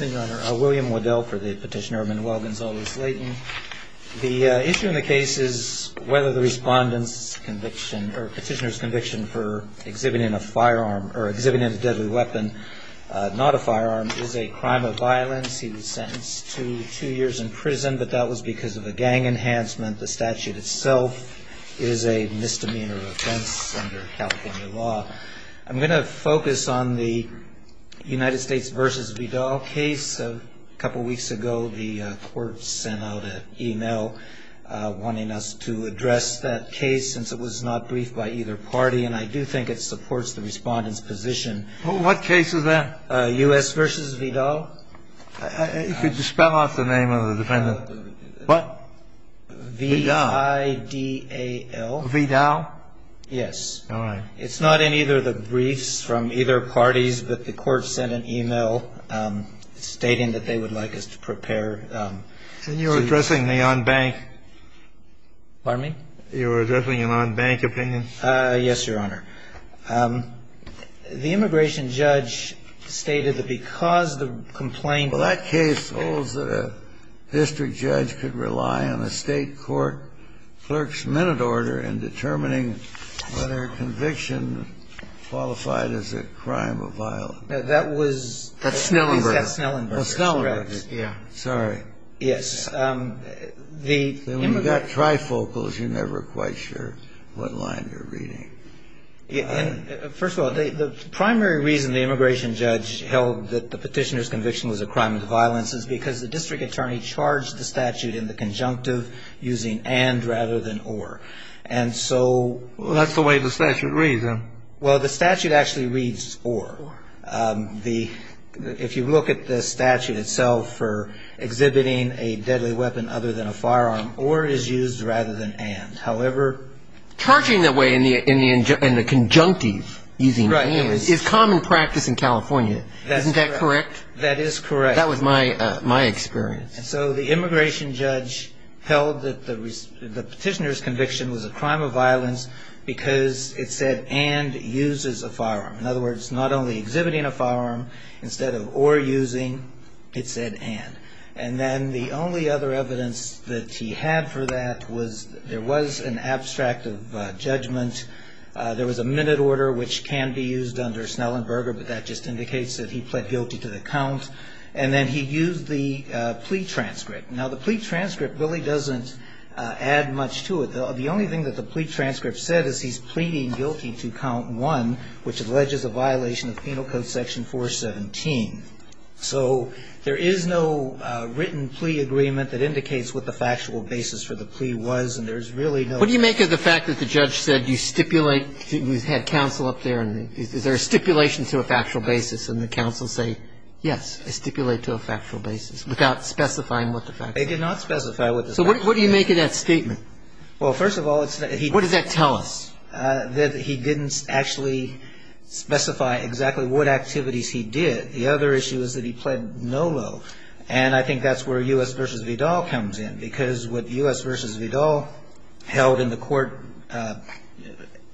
William Waddell for the petitioner, Manuel Gonzales-Leyton. The issue in the case is whether the petitioner's conviction for exhibiting a deadly weapon, not a firearm, is a crime of violence. He was sentenced to two years in prison, but that was because of a gang enhancement. The statute itself is a misdemeanor offense under California law. I'm going to focus on the United States v. Vidal case. A couple weeks ago, the court sent out an e-mail wanting us to address that case since it was not briefed by either party, and I do think it supports the Respondent's position. What case is that? U.S. v. Vidal. Could you spell out the name of the defendant? What? Vidal. V-I-D-A-L. Vidal? Yes. All right. It's not in either of the briefs from either parties, but the court sent an e-mail stating that they would like us to prepare. And you're addressing the on-bank? Pardon me? You're addressing an on-bank opinion? Yes, Your Honor. The immigration judge stated that because the complaint was... Well, the petitioner's conviction qualified as a crime of violence. That was... That's Snellenberg. That's Snellenberg. Oh, Snellenberg. Yeah. Sorry. Yes. When you've got trifocals, you're never quite sure what line you're reading. First of all, the primary reason the immigration judge held that the petitioner's conviction was a crime of violence is because the district attorney charged the statute in the conjunctive using and rather than or. And so... Well, that's the way the statute reads, huh? Well, the statute actually reads or. If you look at the statute itself for exhibiting a deadly weapon other than a firearm, or is used rather than and. However... Charging the way in the conjunctive using and is common practice in California. Isn't that correct? That is correct. That was my experience. And so the immigration judge held that the petitioner's conviction was a crime of violence because it said and uses a firearm. In other words, not only exhibiting a firearm, instead of or using, it said and. And then the only other evidence that he had for that was there was an abstract of judgment. There was a minute order, which can be used under Snellenberger, but that just indicates that he pled guilty to the count. And then he used the plea transcript. Now, the plea transcript really doesn't add much to it. The only thing that the plea transcript said is he's pleading guilty to count one, which alleges a violation of Penal Code Section 417. So there is no written plea agreement that indicates what the factual basis for the plea was, and there's really no... What do you make of the fact that the judge said you stipulate? We've had counsel up there, and is there a stipulation to a factual basis? And the counsel say, yes, I stipulate to a factual basis without specifying what the factual basis is. They did not specify what the factual basis is. So what do you make of that statement? Well, first of all, it's... What does that tell us? That he didn't actually specify exactly what activities he did. The other issue is that he pled no low. And I think that's where U.S. v. Vidal comes in. Because what U.S. v. Vidal held in the court,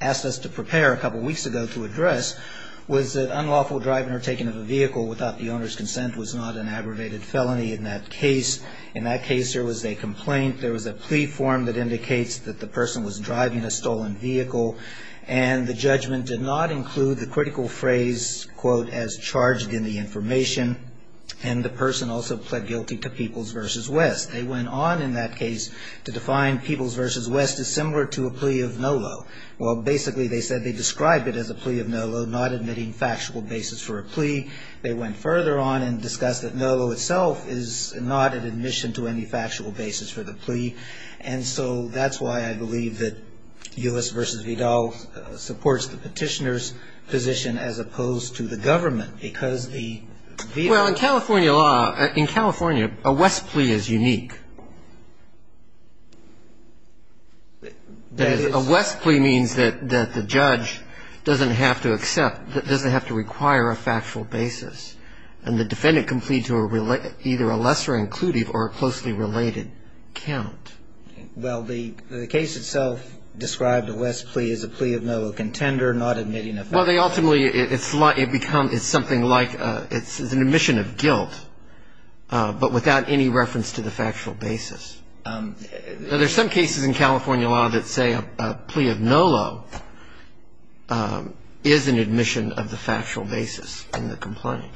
asked us to prepare a couple weeks ago to address, was that unlawful driving or taking of a vehicle without the owner's consent was not an aggravated felony in that case. In that case, there was a complaint. There was a plea form that indicates that the person was driving a stolen vehicle. And the judgment did not include the critical phrase, quote, as charged in the information. And the person also pled guilty to Peoples v. West. They went on in that case to define Peoples v. West as similar to a plea of no low. Well, basically they said they described it as a plea of no low, not admitting factual basis for a plea. They went further on and discussed that no low itself is not an admission to any factual basis for the plea. And so that's why I believe that U.S. v. Vidal supports the petitioner's position as opposed to the government. Because the v. Well, in California law, in California, a West plea is unique. A West plea means that the judge doesn't have to accept, doesn't have to require a factual basis. And the defendant can plead to either a lesser inclusive or a closely related count. Well, the case itself described a West plea as a plea of no low, contender, not admitting a factual basis. Well, they ultimately, it becomes, it's something like, it's an admission of guilt, but without any reference to the factual basis. Now, there's some cases in California law that say a plea of no low is an admission of the factual basis in the complaint.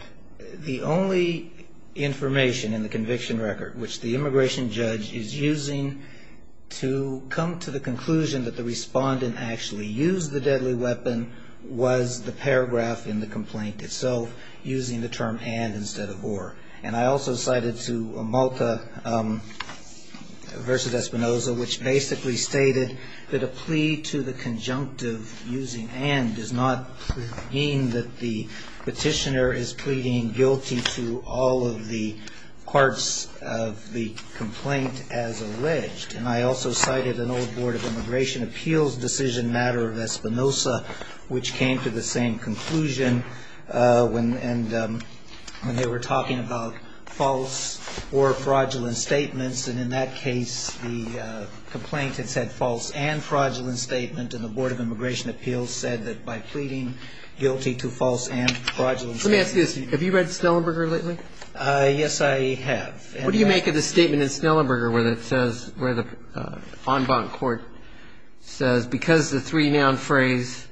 The only information in the conviction record which the immigration judge is using to come to the conclusion that the respondent actually used the deadly weapon was the paragraph in the complaint itself using the term and instead of or. And I also cited to Malta v. Espinoza, which basically stated that a plea to the conjunctive using and does not mean that the petitioner is pleading guilty to all of the parts of the complaint as alleged. And I also cited an old Board of Immigration Appeals decision matter of Espinoza, which came to the same conclusion when they were talking about false or fraudulent statements. And in that case, the complaint had said false and fraudulent statement, and the Board of Immigration Appeals said that by pleading guilty to false and fraudulent statements. Let me ask you this. Have you read Snellenberger lately? Yes, I have. What do you make of the statement in Snellenberger where it says, where the en banc court says because the three-noun phrase,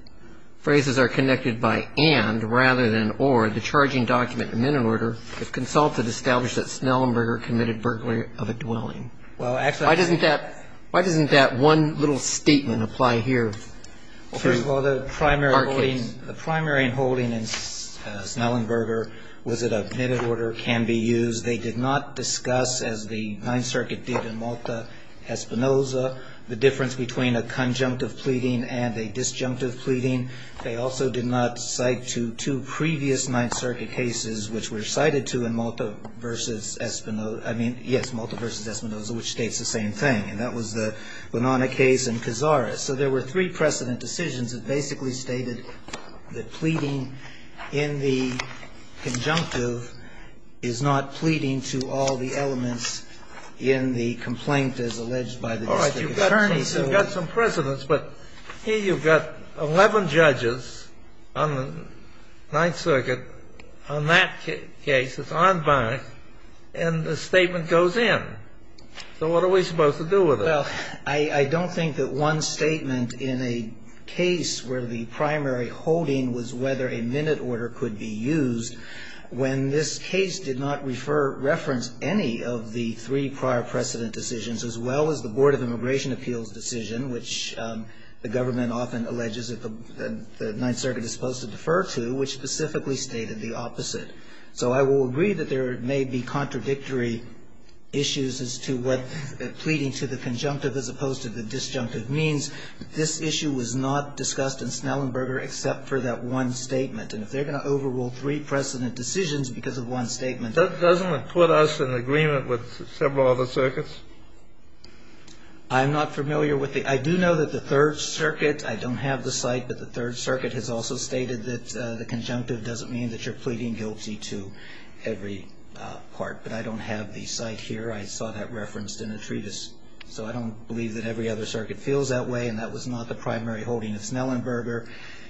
phrases are connected by and rather than or, the charging document, the minute order, if consulted, established that Snellenberger committed burglary of a dwelling. Why doesn't that one little statement apply here to our case? Well, first of all, the primary holding in Snellenberger was that a minute order can be used. They did not discuss, as the Ninth Circuit did in Malta v. Espinoza, the difference between a conjunctive pleading and a disjunctive pleading. They also did not cite to two previous Ninth Circuit cases which were cited to in Malta v. Espinoza, I mean, yes, Malta v. Espinoza, which states the same thing, and that was the Bonanna case and Cazares. So there were three precedent decisions that basically stated that pleading in the conjunctive is not pleading to all the elements in the complaint as alleged by the district attorney. All right. You've got some precedents, but here you've got 11 judges on the Ninth Circuit on that case, it's en banc, and the statement goes in. So what are we supposed to do with it? Well, I don't think that one statement in a case where the primary holding was whether a minute order could be used when this case did not refer, reference any of the three prior precedent decisions as well as the Board of Immigration Appeals decision, which the government often alleges that the Ninth Circuit is supposed to defer to, which specifically stated the opposite. So I will agree that there may be contradictory issues as to what pleading to the conjunctive as opposed to the disjunctive means. This issue was not discussed in Snellenberger except for that one statement. And if they're going to overrule three precedent decisions because of one statement That doesn't put us in agreement with several other circuits. I'm not familiar with the – I do know that the Third Circuit – I don't have the site, but the Third Circuit has also stated that the conjunctive doesn't mean that you're pleading guilty to every part. But I don't have the site here. I saw that referenced in a treatise. So I don't believe that every other circuit feels that way, and that was not the primary holding of Snellenberger.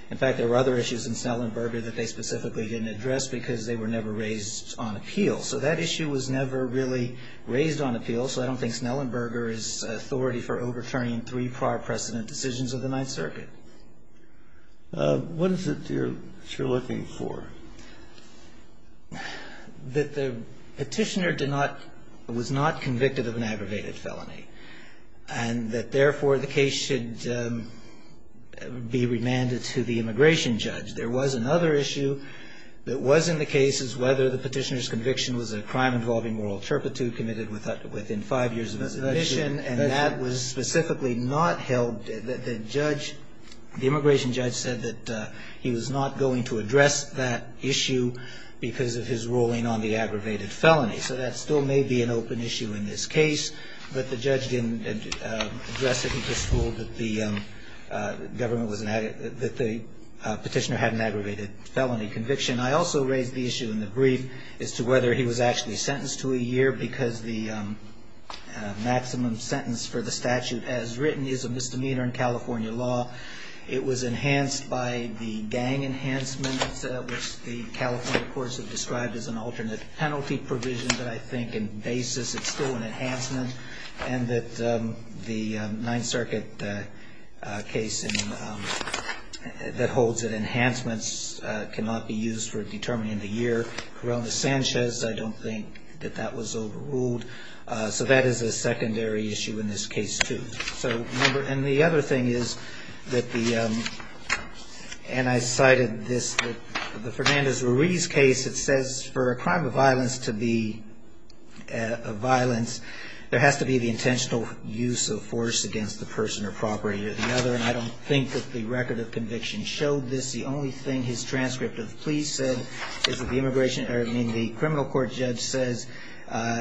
In fact, there were other issues in Snellenberger that they specifically didn't address because they were never raised on appeal. So that issue was never really raised on appeal, So I don't think Snellenberger is authority for overturning three prior precedent decisions of the Ninth Circuit. What is it you're looking for? That the petitioner did not – was not convicted of an aggravated felony, and that therefore the case should be remanded to the immigration judge. There was another issue that was in the cases whether the petitioner's conviction was a crime involving moral turpitude committed within five years of his admission, and that was specifically not held. The judge – the immigration judge said that he was not going to address that issue because of his ruling on the aggravated felony. So that still may be an open issue in this case, but the judge didn't address it. He just ruled that the government was – that the petitioner had an aggravated felony conviction. I also raised the issue in the brief as to whether he was actually sentenced to a year because the maximum sentence for the statute as written is a misdemeanor in California law. It was enhanced by the gang enhancement, which the California courts have described as an alternate penalty provision, but I think in basis it's still an enhancement, and that the Ninth Circuit case that holds that enhancements cannot be used for determining the year. Corona Sanchez, I don't think that that was overruled. So that is a secondary issue in this case, too. So remember – and the other thing is that the – and I cited this, the Fernandez-Ruiz case that says for a crime of violence to be a violence, there has to be the intentional use of force against the person or property or the other, and I don't think that the record of conviction showed this. The only thing his transcript of the plea said is that the immigration – I mean the criminal court judge says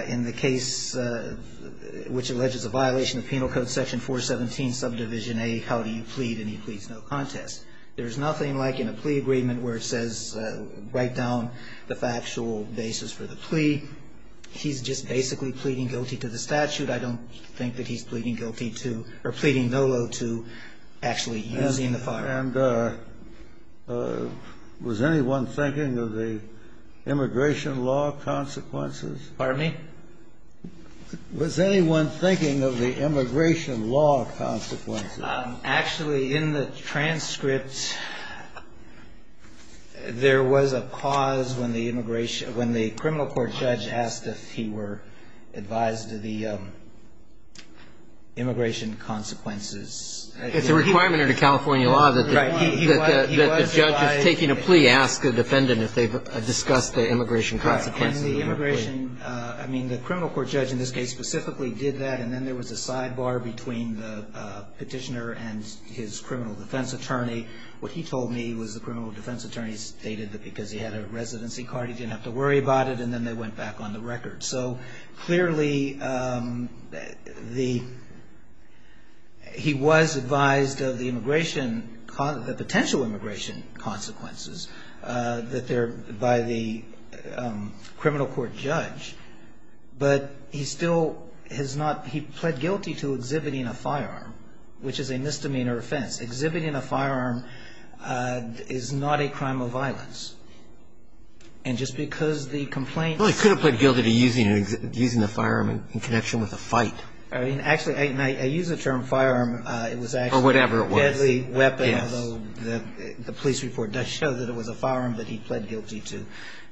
in the case which alleges a violation of Penal Code Section 417, Subdivision A, how do you plead? And he pleads no contest. There's nothing like in a plea agreement where it says write down the factual basis for the plea. He's just basically pleading guilty to the statute. I don't think that he's pleading guilty to – or pleading no lieu to actually using the firearm. And was anyone thinking of the immigration law consequences? Pardon me? Was anyone thinking of the immigration law consequences? Actually, in the transcript, there was a pause when the immigration – when the criminal court judge asked if he were advised of the immigration consequences. It's a requirement under California law that the judge is taking a plea. Ask a defendant if they've discussed the immigration consequences. And the immigration – I mean the criminal court judge in this case specifically did that, and then there was a sidebar between the petitioner and his criminal defense attorney. What he told me was the criminal defense attorney stated that because he had a residency card, he didn't have to worry about it, and then they went back on the record. So clearly, the – he was advised of the immigration – the potential immigration consequences that there – by the criminal court judge. But he still has not – he pled guilty to exhibiting a firearm, which is a misdemeanor offense. Exhibiting a firearm is not a crime of violence. And just because the complaint – Well, he could have pled guilty to using the firearm in connection with a fight. Actually, I use the term firearm. It was actually a deadly weapon. Or whatever it was. Yes. Although the police report does show that it was a firearm, but he pled guilty to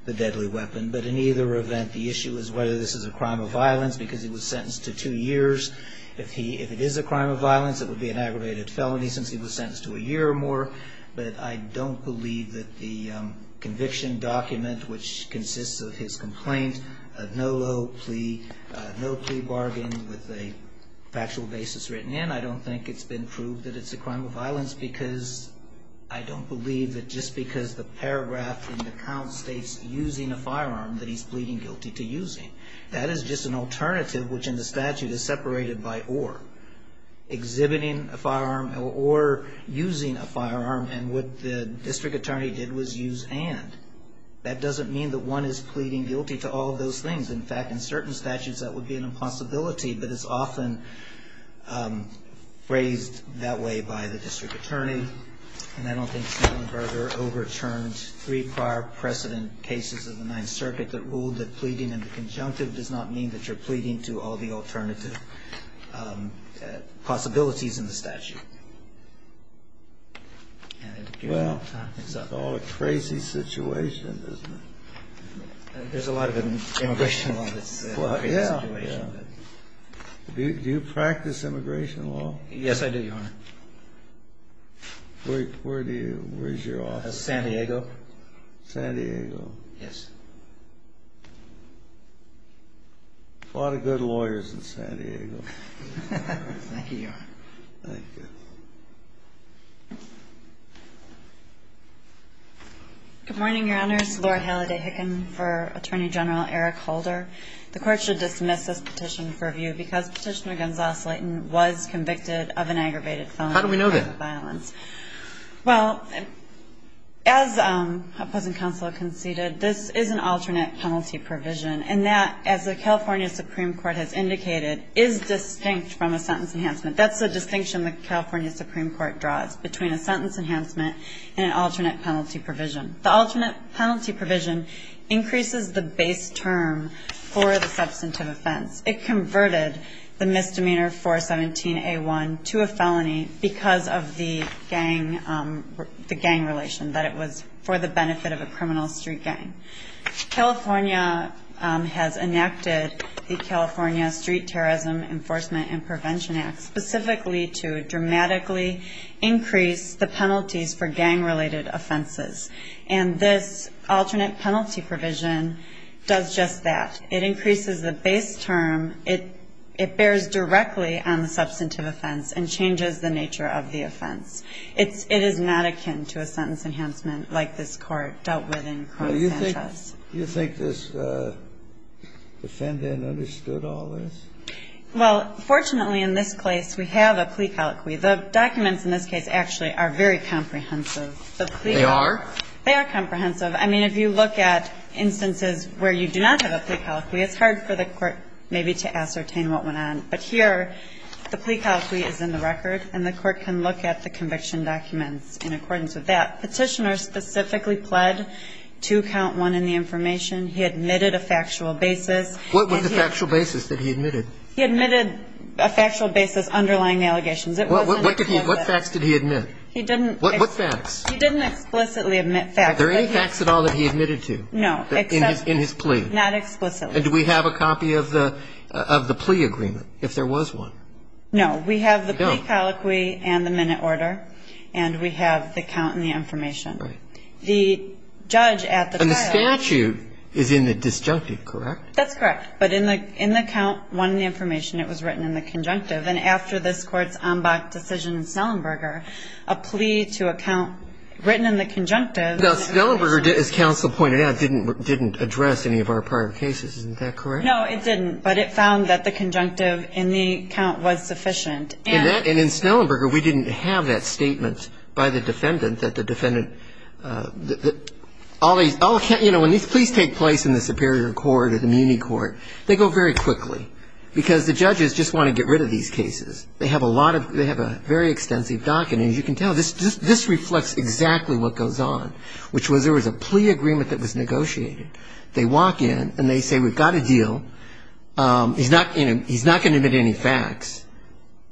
the deadly weapon. But in either event, the issue is whether this is a crime of violence because he was sentenced to two years. If he – if it is a crime of violence, it would be an aggravated felony since he was sentenced to a year or more. But I don't believe that the conviction document, which consists of his complaint, no low plea – no plea bargain with a factual basis written in, I don't think it's been proved that it's a crime of violence because – I don't believe that just because the paragraph in the count states using a firearm that he's pleading guilty to using. That is just an alternative, which in the statute is separated by or. Exhibiting a firearm or using a firearm. And what the district attorney did was use and. That doesn't mean that one is pleading guilty to all of those things. In fact, in certain statutes, that would be an impossibility. But it's often phrased that way by the district attorney. And I don't think Snellenberger overturned three prior precedent cases of the Ninth Circuit that ruled that pleading in the conjunctive does not mean that you're pleading to all the alternative possibilities in the statute. And. Well. It's all a crazy situation, isn't it? There's a lot of immigration law that's. Do you practice immigration law? Yes, I do, Your Honor. Where do you. Where's your office? San Diego. San Diego. Yes. A lot of good lawyers in San Diego. Thank you, Your Honor. Thank you. Good morning, Your Honors. Lord Halliday Hicken for Attorney General Eric Holder. The Court should dismiss this petition for review because Petitioner Gonzales-Leighton was convicted of an aggravated felony. How do we know that? Well, as Opposing Counsel conceded, this is an alternate penalty provision. And that, as the California Supreme Court has indicated, is distinct from a sentence enhancement. That's the distinction the California Supreme Court draws between a sentence enhancement and an alternate penalty provision. The alternate penalty provision increases the base term for the substantive offense. It converted the misdemeanor 417A1 to a felony because of the gang relation, that it was for the benefit of a criminal street gang. California has enacted the California Street Terrorism Enforcement and Prevention Act specifically to dramatically increase the penalties for gang-related offenses. And this alternate penalty provision does just that. It increases the base term. It bears directly on the substantive offense and changes the nature of the offense. It is not akin to a sentence enhancement like this Court dealt with in Cron-Sanchez. Do you think this defendant understood all this? Well, fortunately, in this case, we have a plea colloquy. The documents in this case actually are very comprehensive. They are? They are comprehensive. I mean, if you look at instances where you do not have a plea colloquy, it's hard for the Court maybe to ascertain what went on. But here, the plea colloquy is in the record, and the Court can look at the conviction documents in accordance with that. Petitioner specifically pled to count one in the information. He admitted a factual basis. What was the factual basis that he admitted? He admitted a factual basis underlying the allegations. What facts did he admit? He didn't. What facts? He didn't explicitly admit facts. Are there any facts at all that he admitted to? No. In his plea? Not explicitly. And do we have a copy of the plea agreement, if there was one? No. We have the plea colloquy and the minute order, and we have the count and the information. Right. The judge at the trial – And the statute is in the disjunctive, correct? That's correct. But in the count, one in the information, it was written in the conjunctive. And after this Court's ambach decision in Snellenberger, a plea to a count written in the conjunctive – Isn't that correct? No, it didn't. But it found that the conjunctive in the count was sufficient. And in Snellenberger, we didn't have that statement by the defendant that the defendant – you know, when these pleas take place in the Superior Court or the Muni Court, they go very quickly, because the judges just want to get rid of these cases. They have a lot of – they have a very extensive docket. And as you can tell, this reflects exactly what goes on, which was there was a plea agreement that was negotiated. They walk in and they say, we've got a deal. He's not going to admit any facts.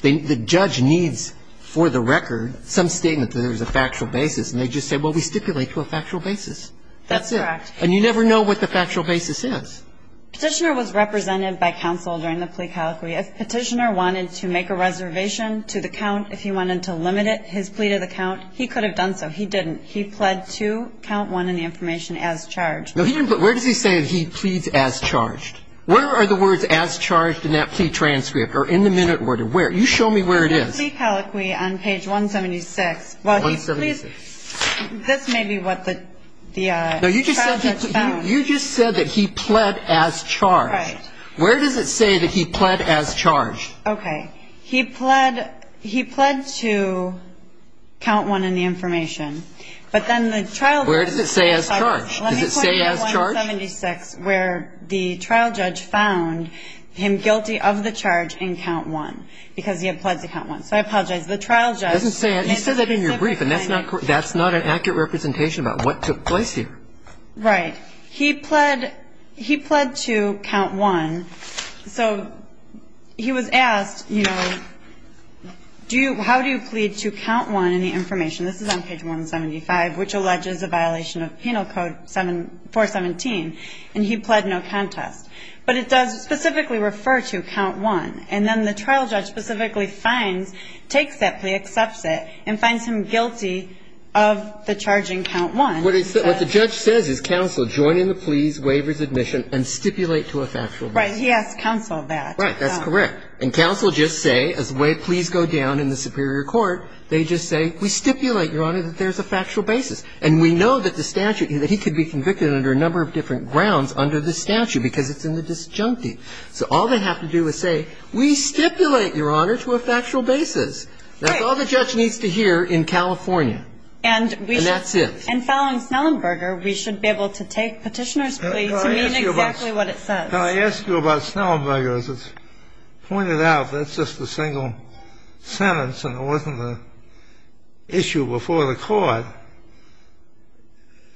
The judge needs for the record some statement that there is a factual basis. And they just say, well, we stipulate to a factual basis. That's it. That's correct. And you never know what the factual basis is. Petitioner was represented by counsel during the plea calichry. If Petitioner wanted to make a reservation to the count, if he wanted to limit his plea to the count, he could have done so. He didn't. He pled to count one in the information as charged. No, he didn't. But where does he say that he pleads as charged? Where are the words as charged in that plea transcript or in the minute order? Where? You show me where it is. In the plea calichry on page 176. 176. Well, he pleads – this may be what the trial judge found. No, you just said he pled as charged. Right. Where does it say that he pled as charged? Okay. He pled to count one in the information. But then the trial judge – Where does it say as charged? Does it say as charged? Let me point you to 176 where the trial judge found him guilty of the charge in count one, because he had pledged to count one. So I apologize. The trial judge – It doesn't say – you said that in your brief, and that's not an accurate representation about what took place here. Right. He pled to count one. So he was asked, you know, how do you plead to count one in the information? This is on page 175, which alleges a violation of Penal Code 417. And he pled no contest. But it does specifically refer to count one. And then the trial judge specifically finds – takes that plea, accepts it, and finds him guilty of the charge in count one. What the judge says is counsel join in the pleas, waivers, admission, and stipulate to a factual basis. Right. He asked counsel that. Right. That's correct. And counsel just say, as the way pleas go down in the superior court, they just say, we stipulate, Your Honor, that there's a factual basis. And we know that the statute – that he could be convicted under a number of different grounds under the statute, because it's in the disjunctive. So all they have to do is say, we stipulate, Your Honor, to a factual basis. Right. That's all the judge needs to hear in California. And we should – And that's it. And following Snellenberger, we should be able to take Petitioner's plea to mean exactly what it says. Can I ask you about Snellenberger? As it's pointed out, that's just a single sentence, and it wasn't an issue before the Court.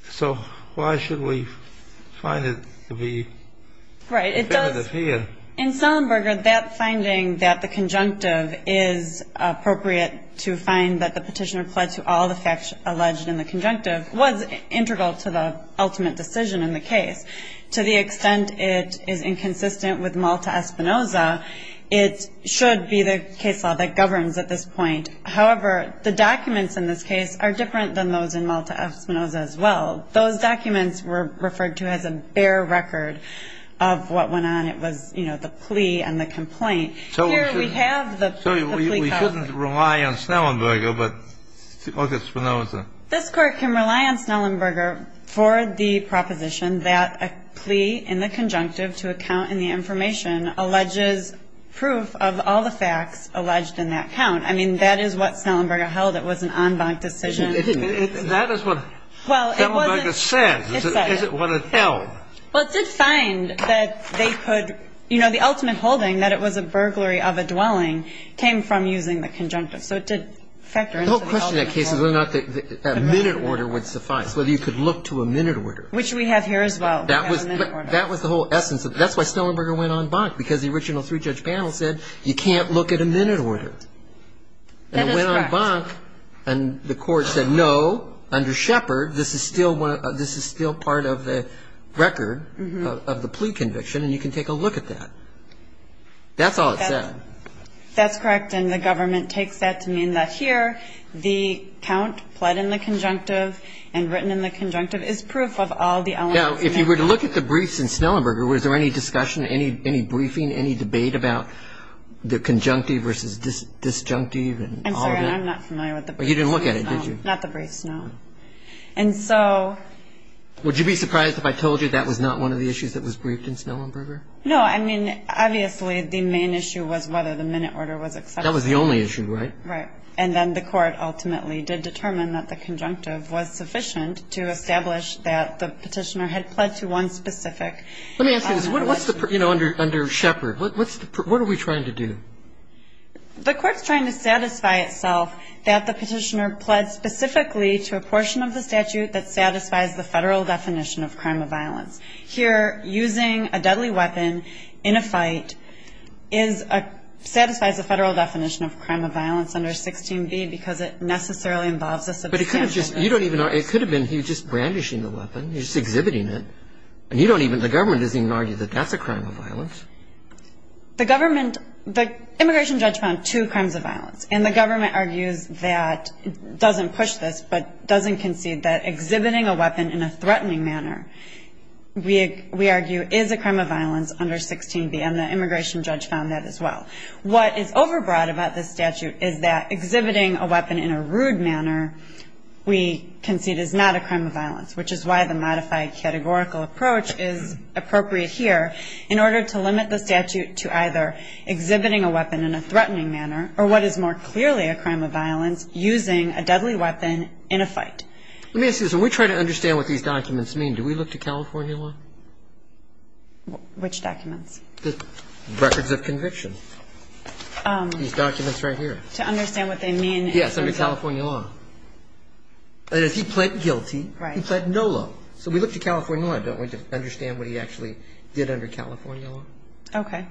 So why should we find it to be definitive here? Right. It does – in Snellenberger, that finding that the conjunctive is appropriate to find that the Petitioner pled to all the facts alleged in the conjunctive was integral to the ultimate decision in the case. To the extent it is inconsistent with Malta Espinoza, it should be the case law that governs at this point. However, the documents in this case are different than those in Malta Espinoza as well. Those documents were referred to as a bare record of what went on. It was, you know, the plea and the complaint. Here we have the plea – So we shouldn't rely on Snellenberger, but Malta Espinoza? This Court can rely on Snellenberger for the proposition that a plea in the conjunctive to a count in the information alleges proof of all the facts alleged in that count. I mean, that is what Snellenberger held. It was an en banc decision. It didn't. That is what Snellenberger said. It said it. Is it what it held? Well, it did find that they could – you know, the ultimate holding that it was a burglary of a dwelling came from using the conjunctive. So it did factor into the holding. The whole question in that case is whether or not a minute order would suffice, whether you could look to a minute order. Which we have here as well. That was the whole essence of it. That's why Snellenberger went en banc, because the original three-judge panel said, you can't look at a minute order. That is correct. And it went en banc, and the Court said, no, under Shepard, this is still part of the record of the plea conviction, and you can take a look at that. That's all it said. That's correct, and the government takes that to mean that here, the count pled in the conjunctive and written in the conjunctive is proof of all the elements. Now, if you were to look at the briefs in Snellenberger, was there any discussion, any briefing, any debate about the conjunctive versus disjunctive and all of that? I'm sorry. I'm not familiar with the briefs. You didn't look at it, did you? Not the briefs, no. And so – Would you be surprised if I told you that was not one of the issues that was briefed in Snellenberger? No. I mean, obviously, the main issue was whether the minute order was accepted. That was the only issue, right? Right. And then the Court ultimately did determine that the conjunctive was sufficient to establish that the Petitioner had pled to one specific – Let me ask you this. What's the – you know, under Shepard, what are we trying to do? The Court's trying to satisfy itself that the Petitioner pled specifically to a portion of the statute that satisfies the Federal definition of crime of violence. Here, using a deadly weapon in a fight is a – satisfies the Federal definition of crime of violence under 16b because it necessarily involves a substantial amount of violence. But it could have just – you don't even – it could have been he was just brandishing the weapon, he was just exhibiting it, and you don't even – the government doesn't even argue that that's a crime of violence. The government – the immigration judge found two crimes of violence, and the government argues that – doesn't push this, but doesn't concede that exhibiting a weapon in a threatening manner we argue is a crime of violence under 16b, and the immigration judge found that as well. What is overbroad about this statute is that exhibiting a weapon in a rude manner we concede is not a crime of violence, which is why the modified categorical approach is appropriate here in order to limit the statute to either exhibiting a weapon in a threatening manner or what is more clearly a crime of violence using a deadly weapon in a fight. Let me ask you this. When we try to understand what these documents mean, do we look to California law? Which documents? The records of conviction. These documents right here. To understand what they mean? Yes, under California law. That is, he pled guilty. Right. He pled no law. So we look to California law, don't we, to understand what he actually did under California law? Okay.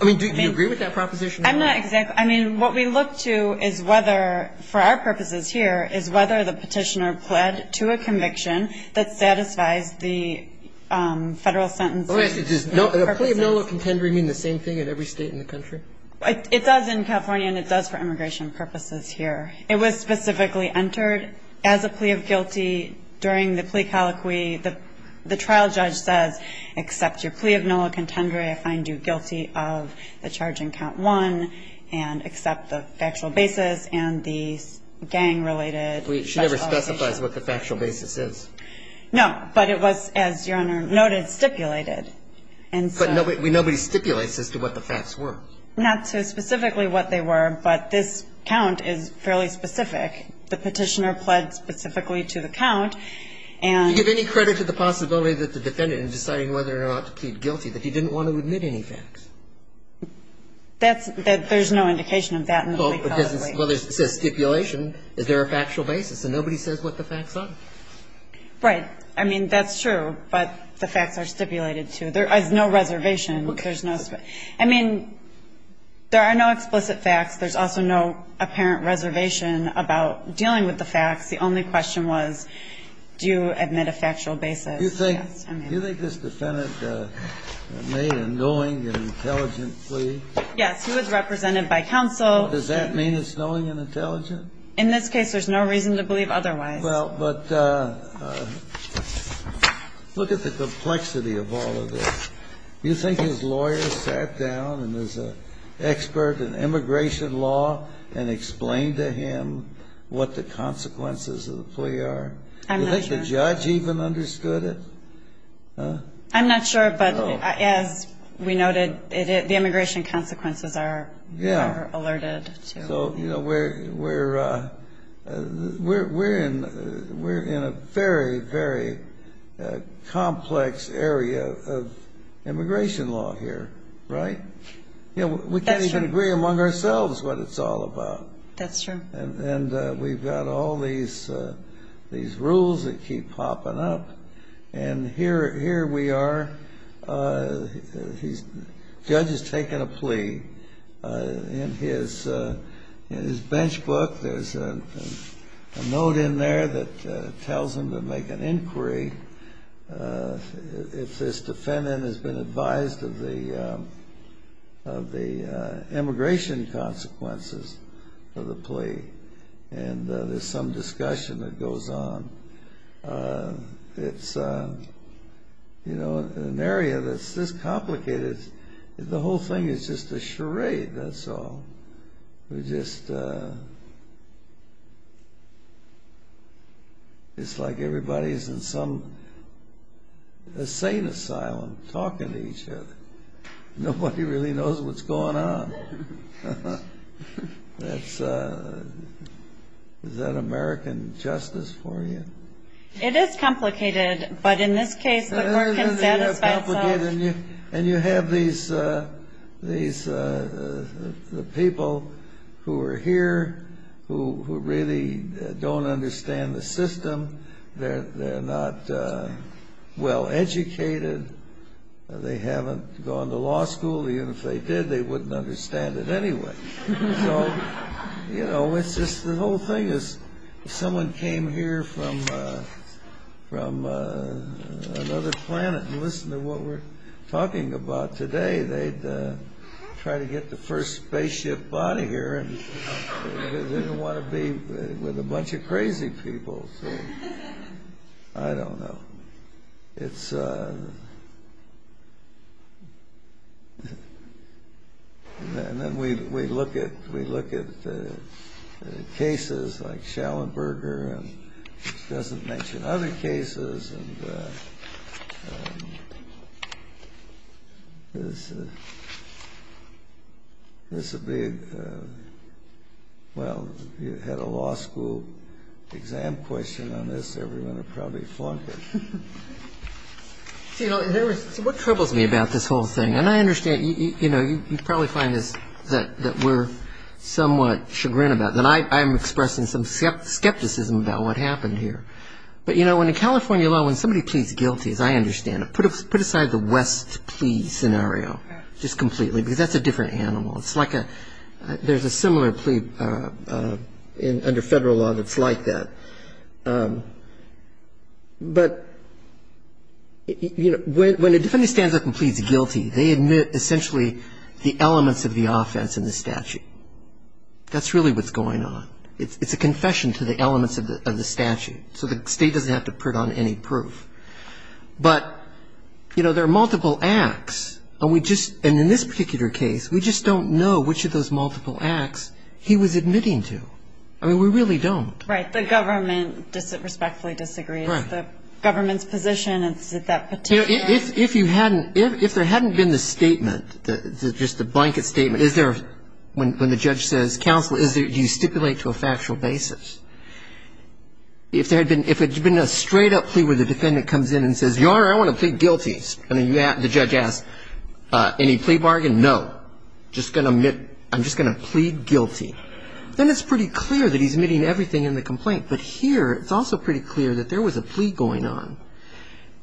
I mean, do you agree with that proposition? I'm not exactly – I mean, what we look to is whether – for our purposes here is whether the petitioner pled to a conviction that satisfies the Federal sentencing purposes. Does a plea of no law contendory mean the same thing in every State in the country? It does in California, and it does for immigration purposes here. It was specifically entered as a plea of guilty during the plea colloquy. The trial judge says, except your plea of no law contendory, I find you guilty of the charge in count one, and except the factual basis and the gang-related – She never specifies what the factual basis is. No. But it was, as Your Honor noted, stipulated. But nobody stipulates as to what the facts were. Not so specifically what they were, but this count is fairly specific. The petitioner pled specifically to the count, and – Do you give any credit to the possibility that the defendant in deciding whether or not to plead guilty, that he didn't want to admit any facts? That's – there's no indication of that in the plea colloquy. Well, because it says stipulation. Is there a factual basis? And nobody says what the facts are. Right. I mean, that's true. But the facts are stipulated, too. There is no reservation. There's no – I mean, there are no explicit facts. There's also no apparent reservation about dealing with the facts. The only question was, do you admit a factual basis? Do you think this defendant made a knowing and intelligent plea? Yes. He was represented by counsel. Does that mean it's knowing and intelligent? In this case, there's no reason to believe otherwise. Well, but look at the complexity of all of this. Do you think his lawyer sat down and was an expert in immigration law and explained to him what the consequences of the plea are? I'm not sure. Do you think the judge even understood it? I'm not sure, but as we noted, the immigration consequences are alerted to. So, you know, we're in a very, very complex area of immigration law here, right? That's true. We can't even agree among ourselves what it's all about. That's true. And we've got all these rules that keep popping up, and here we are. The judge has taken a plea. In his bench book, there's a note in there that tells him to make an inquiry if this defendant has been advised of the immigration consequences of the plea, and there's some discussion that goes on. It's, you know, an area that's this complicated. The whole thing is just a charade, that's all. We're just like everybody's in some insane asylum talking to each other. Nobody really knows what's going on. Is that American justice for you? It is complicated, but in this case the court can satisfy itself. And you have the people who are here who really don't understand the system. They're not well educated. They haven't gone to law school. Even if they did, they wouldn't understand it anyway. So, you know, it's just the whole thing is if someone came here from another planet and listened to what we're talking about today, they'd try to get the first spaceship out of here and they don't want to be with a bunch of crazy people. So, I don't know. And then we look at cases like Schellenberger, which doesn't mention other cases. This is a big, well, if you had a law school exam question on this, everyone would probably flunk it. You know, what troubles me about this whole thing, and I understand, you know, you probably find this that we're somewhat chagrin about. And I'm expressing some skepticism about what happened here. But, you know, in California law, when somebody pleads guilty, as I understand it, put aside the West plea scenario just completely because that's a different animal. It's like there's a similar plea under federal law that's like that. But, you know, when a defendant stands up and pleads guilty, they admit essentially the elements of the offense in the statute. That's really what's going on. It's a confession to the elements of the statute. So the state doesn't have to put on any proof. But, you know, there are multiple acts. And we just – and in this particular case, we just don't know which of those multiple acts he was admitting to. I mean, we really don't. Right. The government respectfully disagrees. Right. It's the government's position. It's that particular – You know, if you hadn't – if there hadn't been the statement, just the blanket statement, is there – when the judge says, counsel, is there – do you stipulate to a factual basis? If there had been – if it had been a straight-up plea where the defendant comes in and says, Your Honor, I want to plead guilty. And the judge asks, any plea bargain? No. Just going to admit – I'm just going to plead guilty. Then it's pretty clear that he's admitting everything in the complaint. But here, it's also pretty clear that there was a plea going on.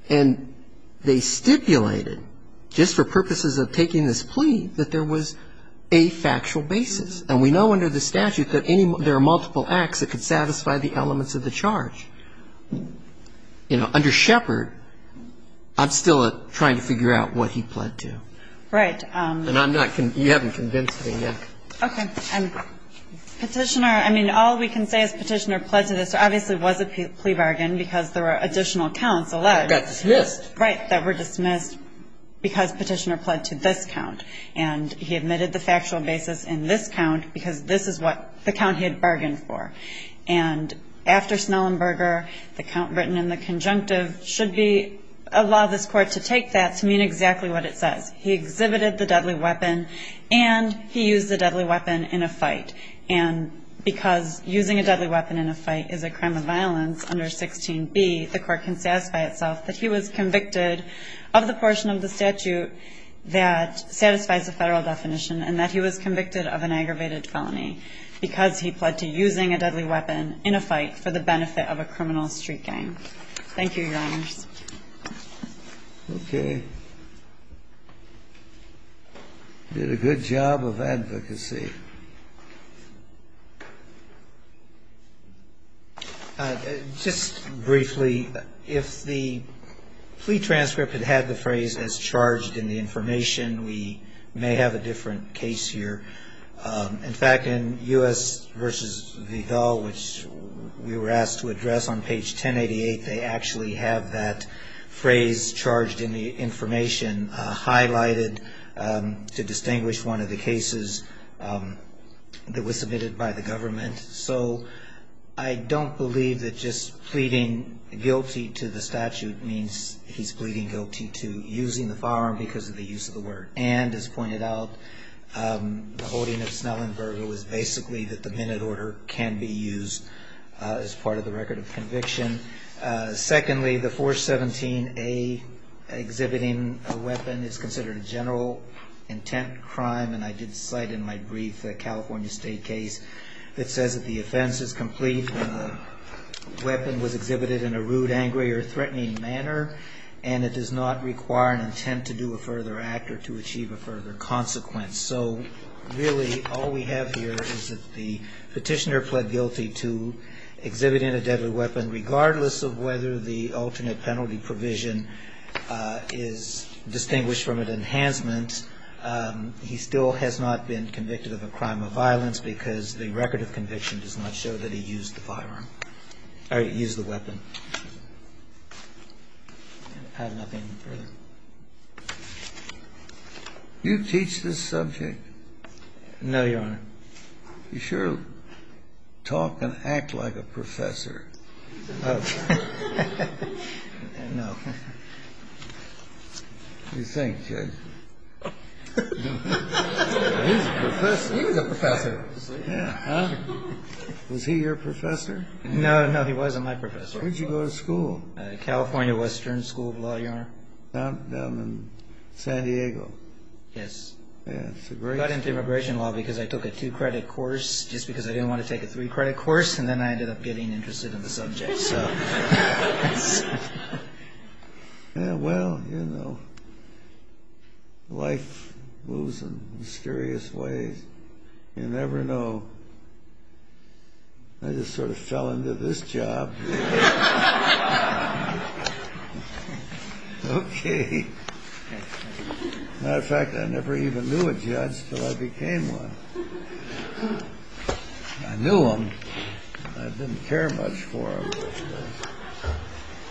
And they stipulated, just for purposes of taking this plea, that there was a factual basis. And we know under the statute that any – there are multiple acts that could satisfy the elements of the charge. You know, under Shepard, I'm still trying to figure out what he pled to. Right. And I'm not – you haven't convinced me yet. Okay. And Petitioner – I mean, all we can say is Petitioner pled to this. Which obviously was a plea bargain because there were additional counts allowed. That were dismissed. Right. That were dismissed because Petitioner pled to this count. And he admitted the factual basis in this count because this is what – the count he had bargained for. And after Snellenberger, the count written in the conjunctive should be – allow this Court to take that to mean exactly what it says. He exhibited the deadly weapon and he used the deadly weapon in a fight. And because using a deadly weapon in a fight is a crime of violence under 16B, the Court can satisfy itself that he was convicted of the portion of the statute that satisfies the Federal definition and that he was convicted of an aggravated felony because he pled to using a deadly weapon in a fight for the benefit of a criminal street gang. Thank you, Your Honors. Okay. Did a good job of advocacy. Just briefly, if the plea transcript had had the phrase as charged in the information, we may have a different case here. In fact, in U.S. v. Vidal, which we were asked to address on page 1088, they actually have that phrase charged in the information highlighted to distinguish one of the cases that was submitted by the government. So I don't believe that just pleading guilty to the statute means he's pleading guilty to using the firearm because of the use of the word. And as pointed out, the holding of Snellenberger was basically that the minute order can be used as part of the record of conviction. Secondly, the 417A exhibiting a weapon is considered a general intent crime. And I did cite in my brief the California State case that says that the offense is complete when the weapon was exhibited in a rude, angry, or threatening manner and it does not require an intent to do a further act or to achieve a further consequence. So really all we have here is that the petitioner pled guilty to exhibiting a deadly weapon regardless of whether the alternate penalty provision is distinguished from an enhancement. He still has not been convicted of a crime of violence because the record of conviction does not show that he used the firearm or used the weapon. I have nothing further. You teach this subject? No, Your Honor. You sure talk and act like a professor. No. What do you think, Judge? He was a professor. Was he your professor? No, no, he wasn't my professor. Where did you go to school? California Western School, Your Honor. Down in San Diego. Yes. I got into immigration law because I took a two-credit course just because I didn't want to take a three-credit course and then I ended up getting interested in the subject. Well, you know, life moves in mysterious ways. You never know. I just sort of fell into this job. Okay. As a matter of fact, I never even knew a judge until I became one. I knew him. I didn't care much for him.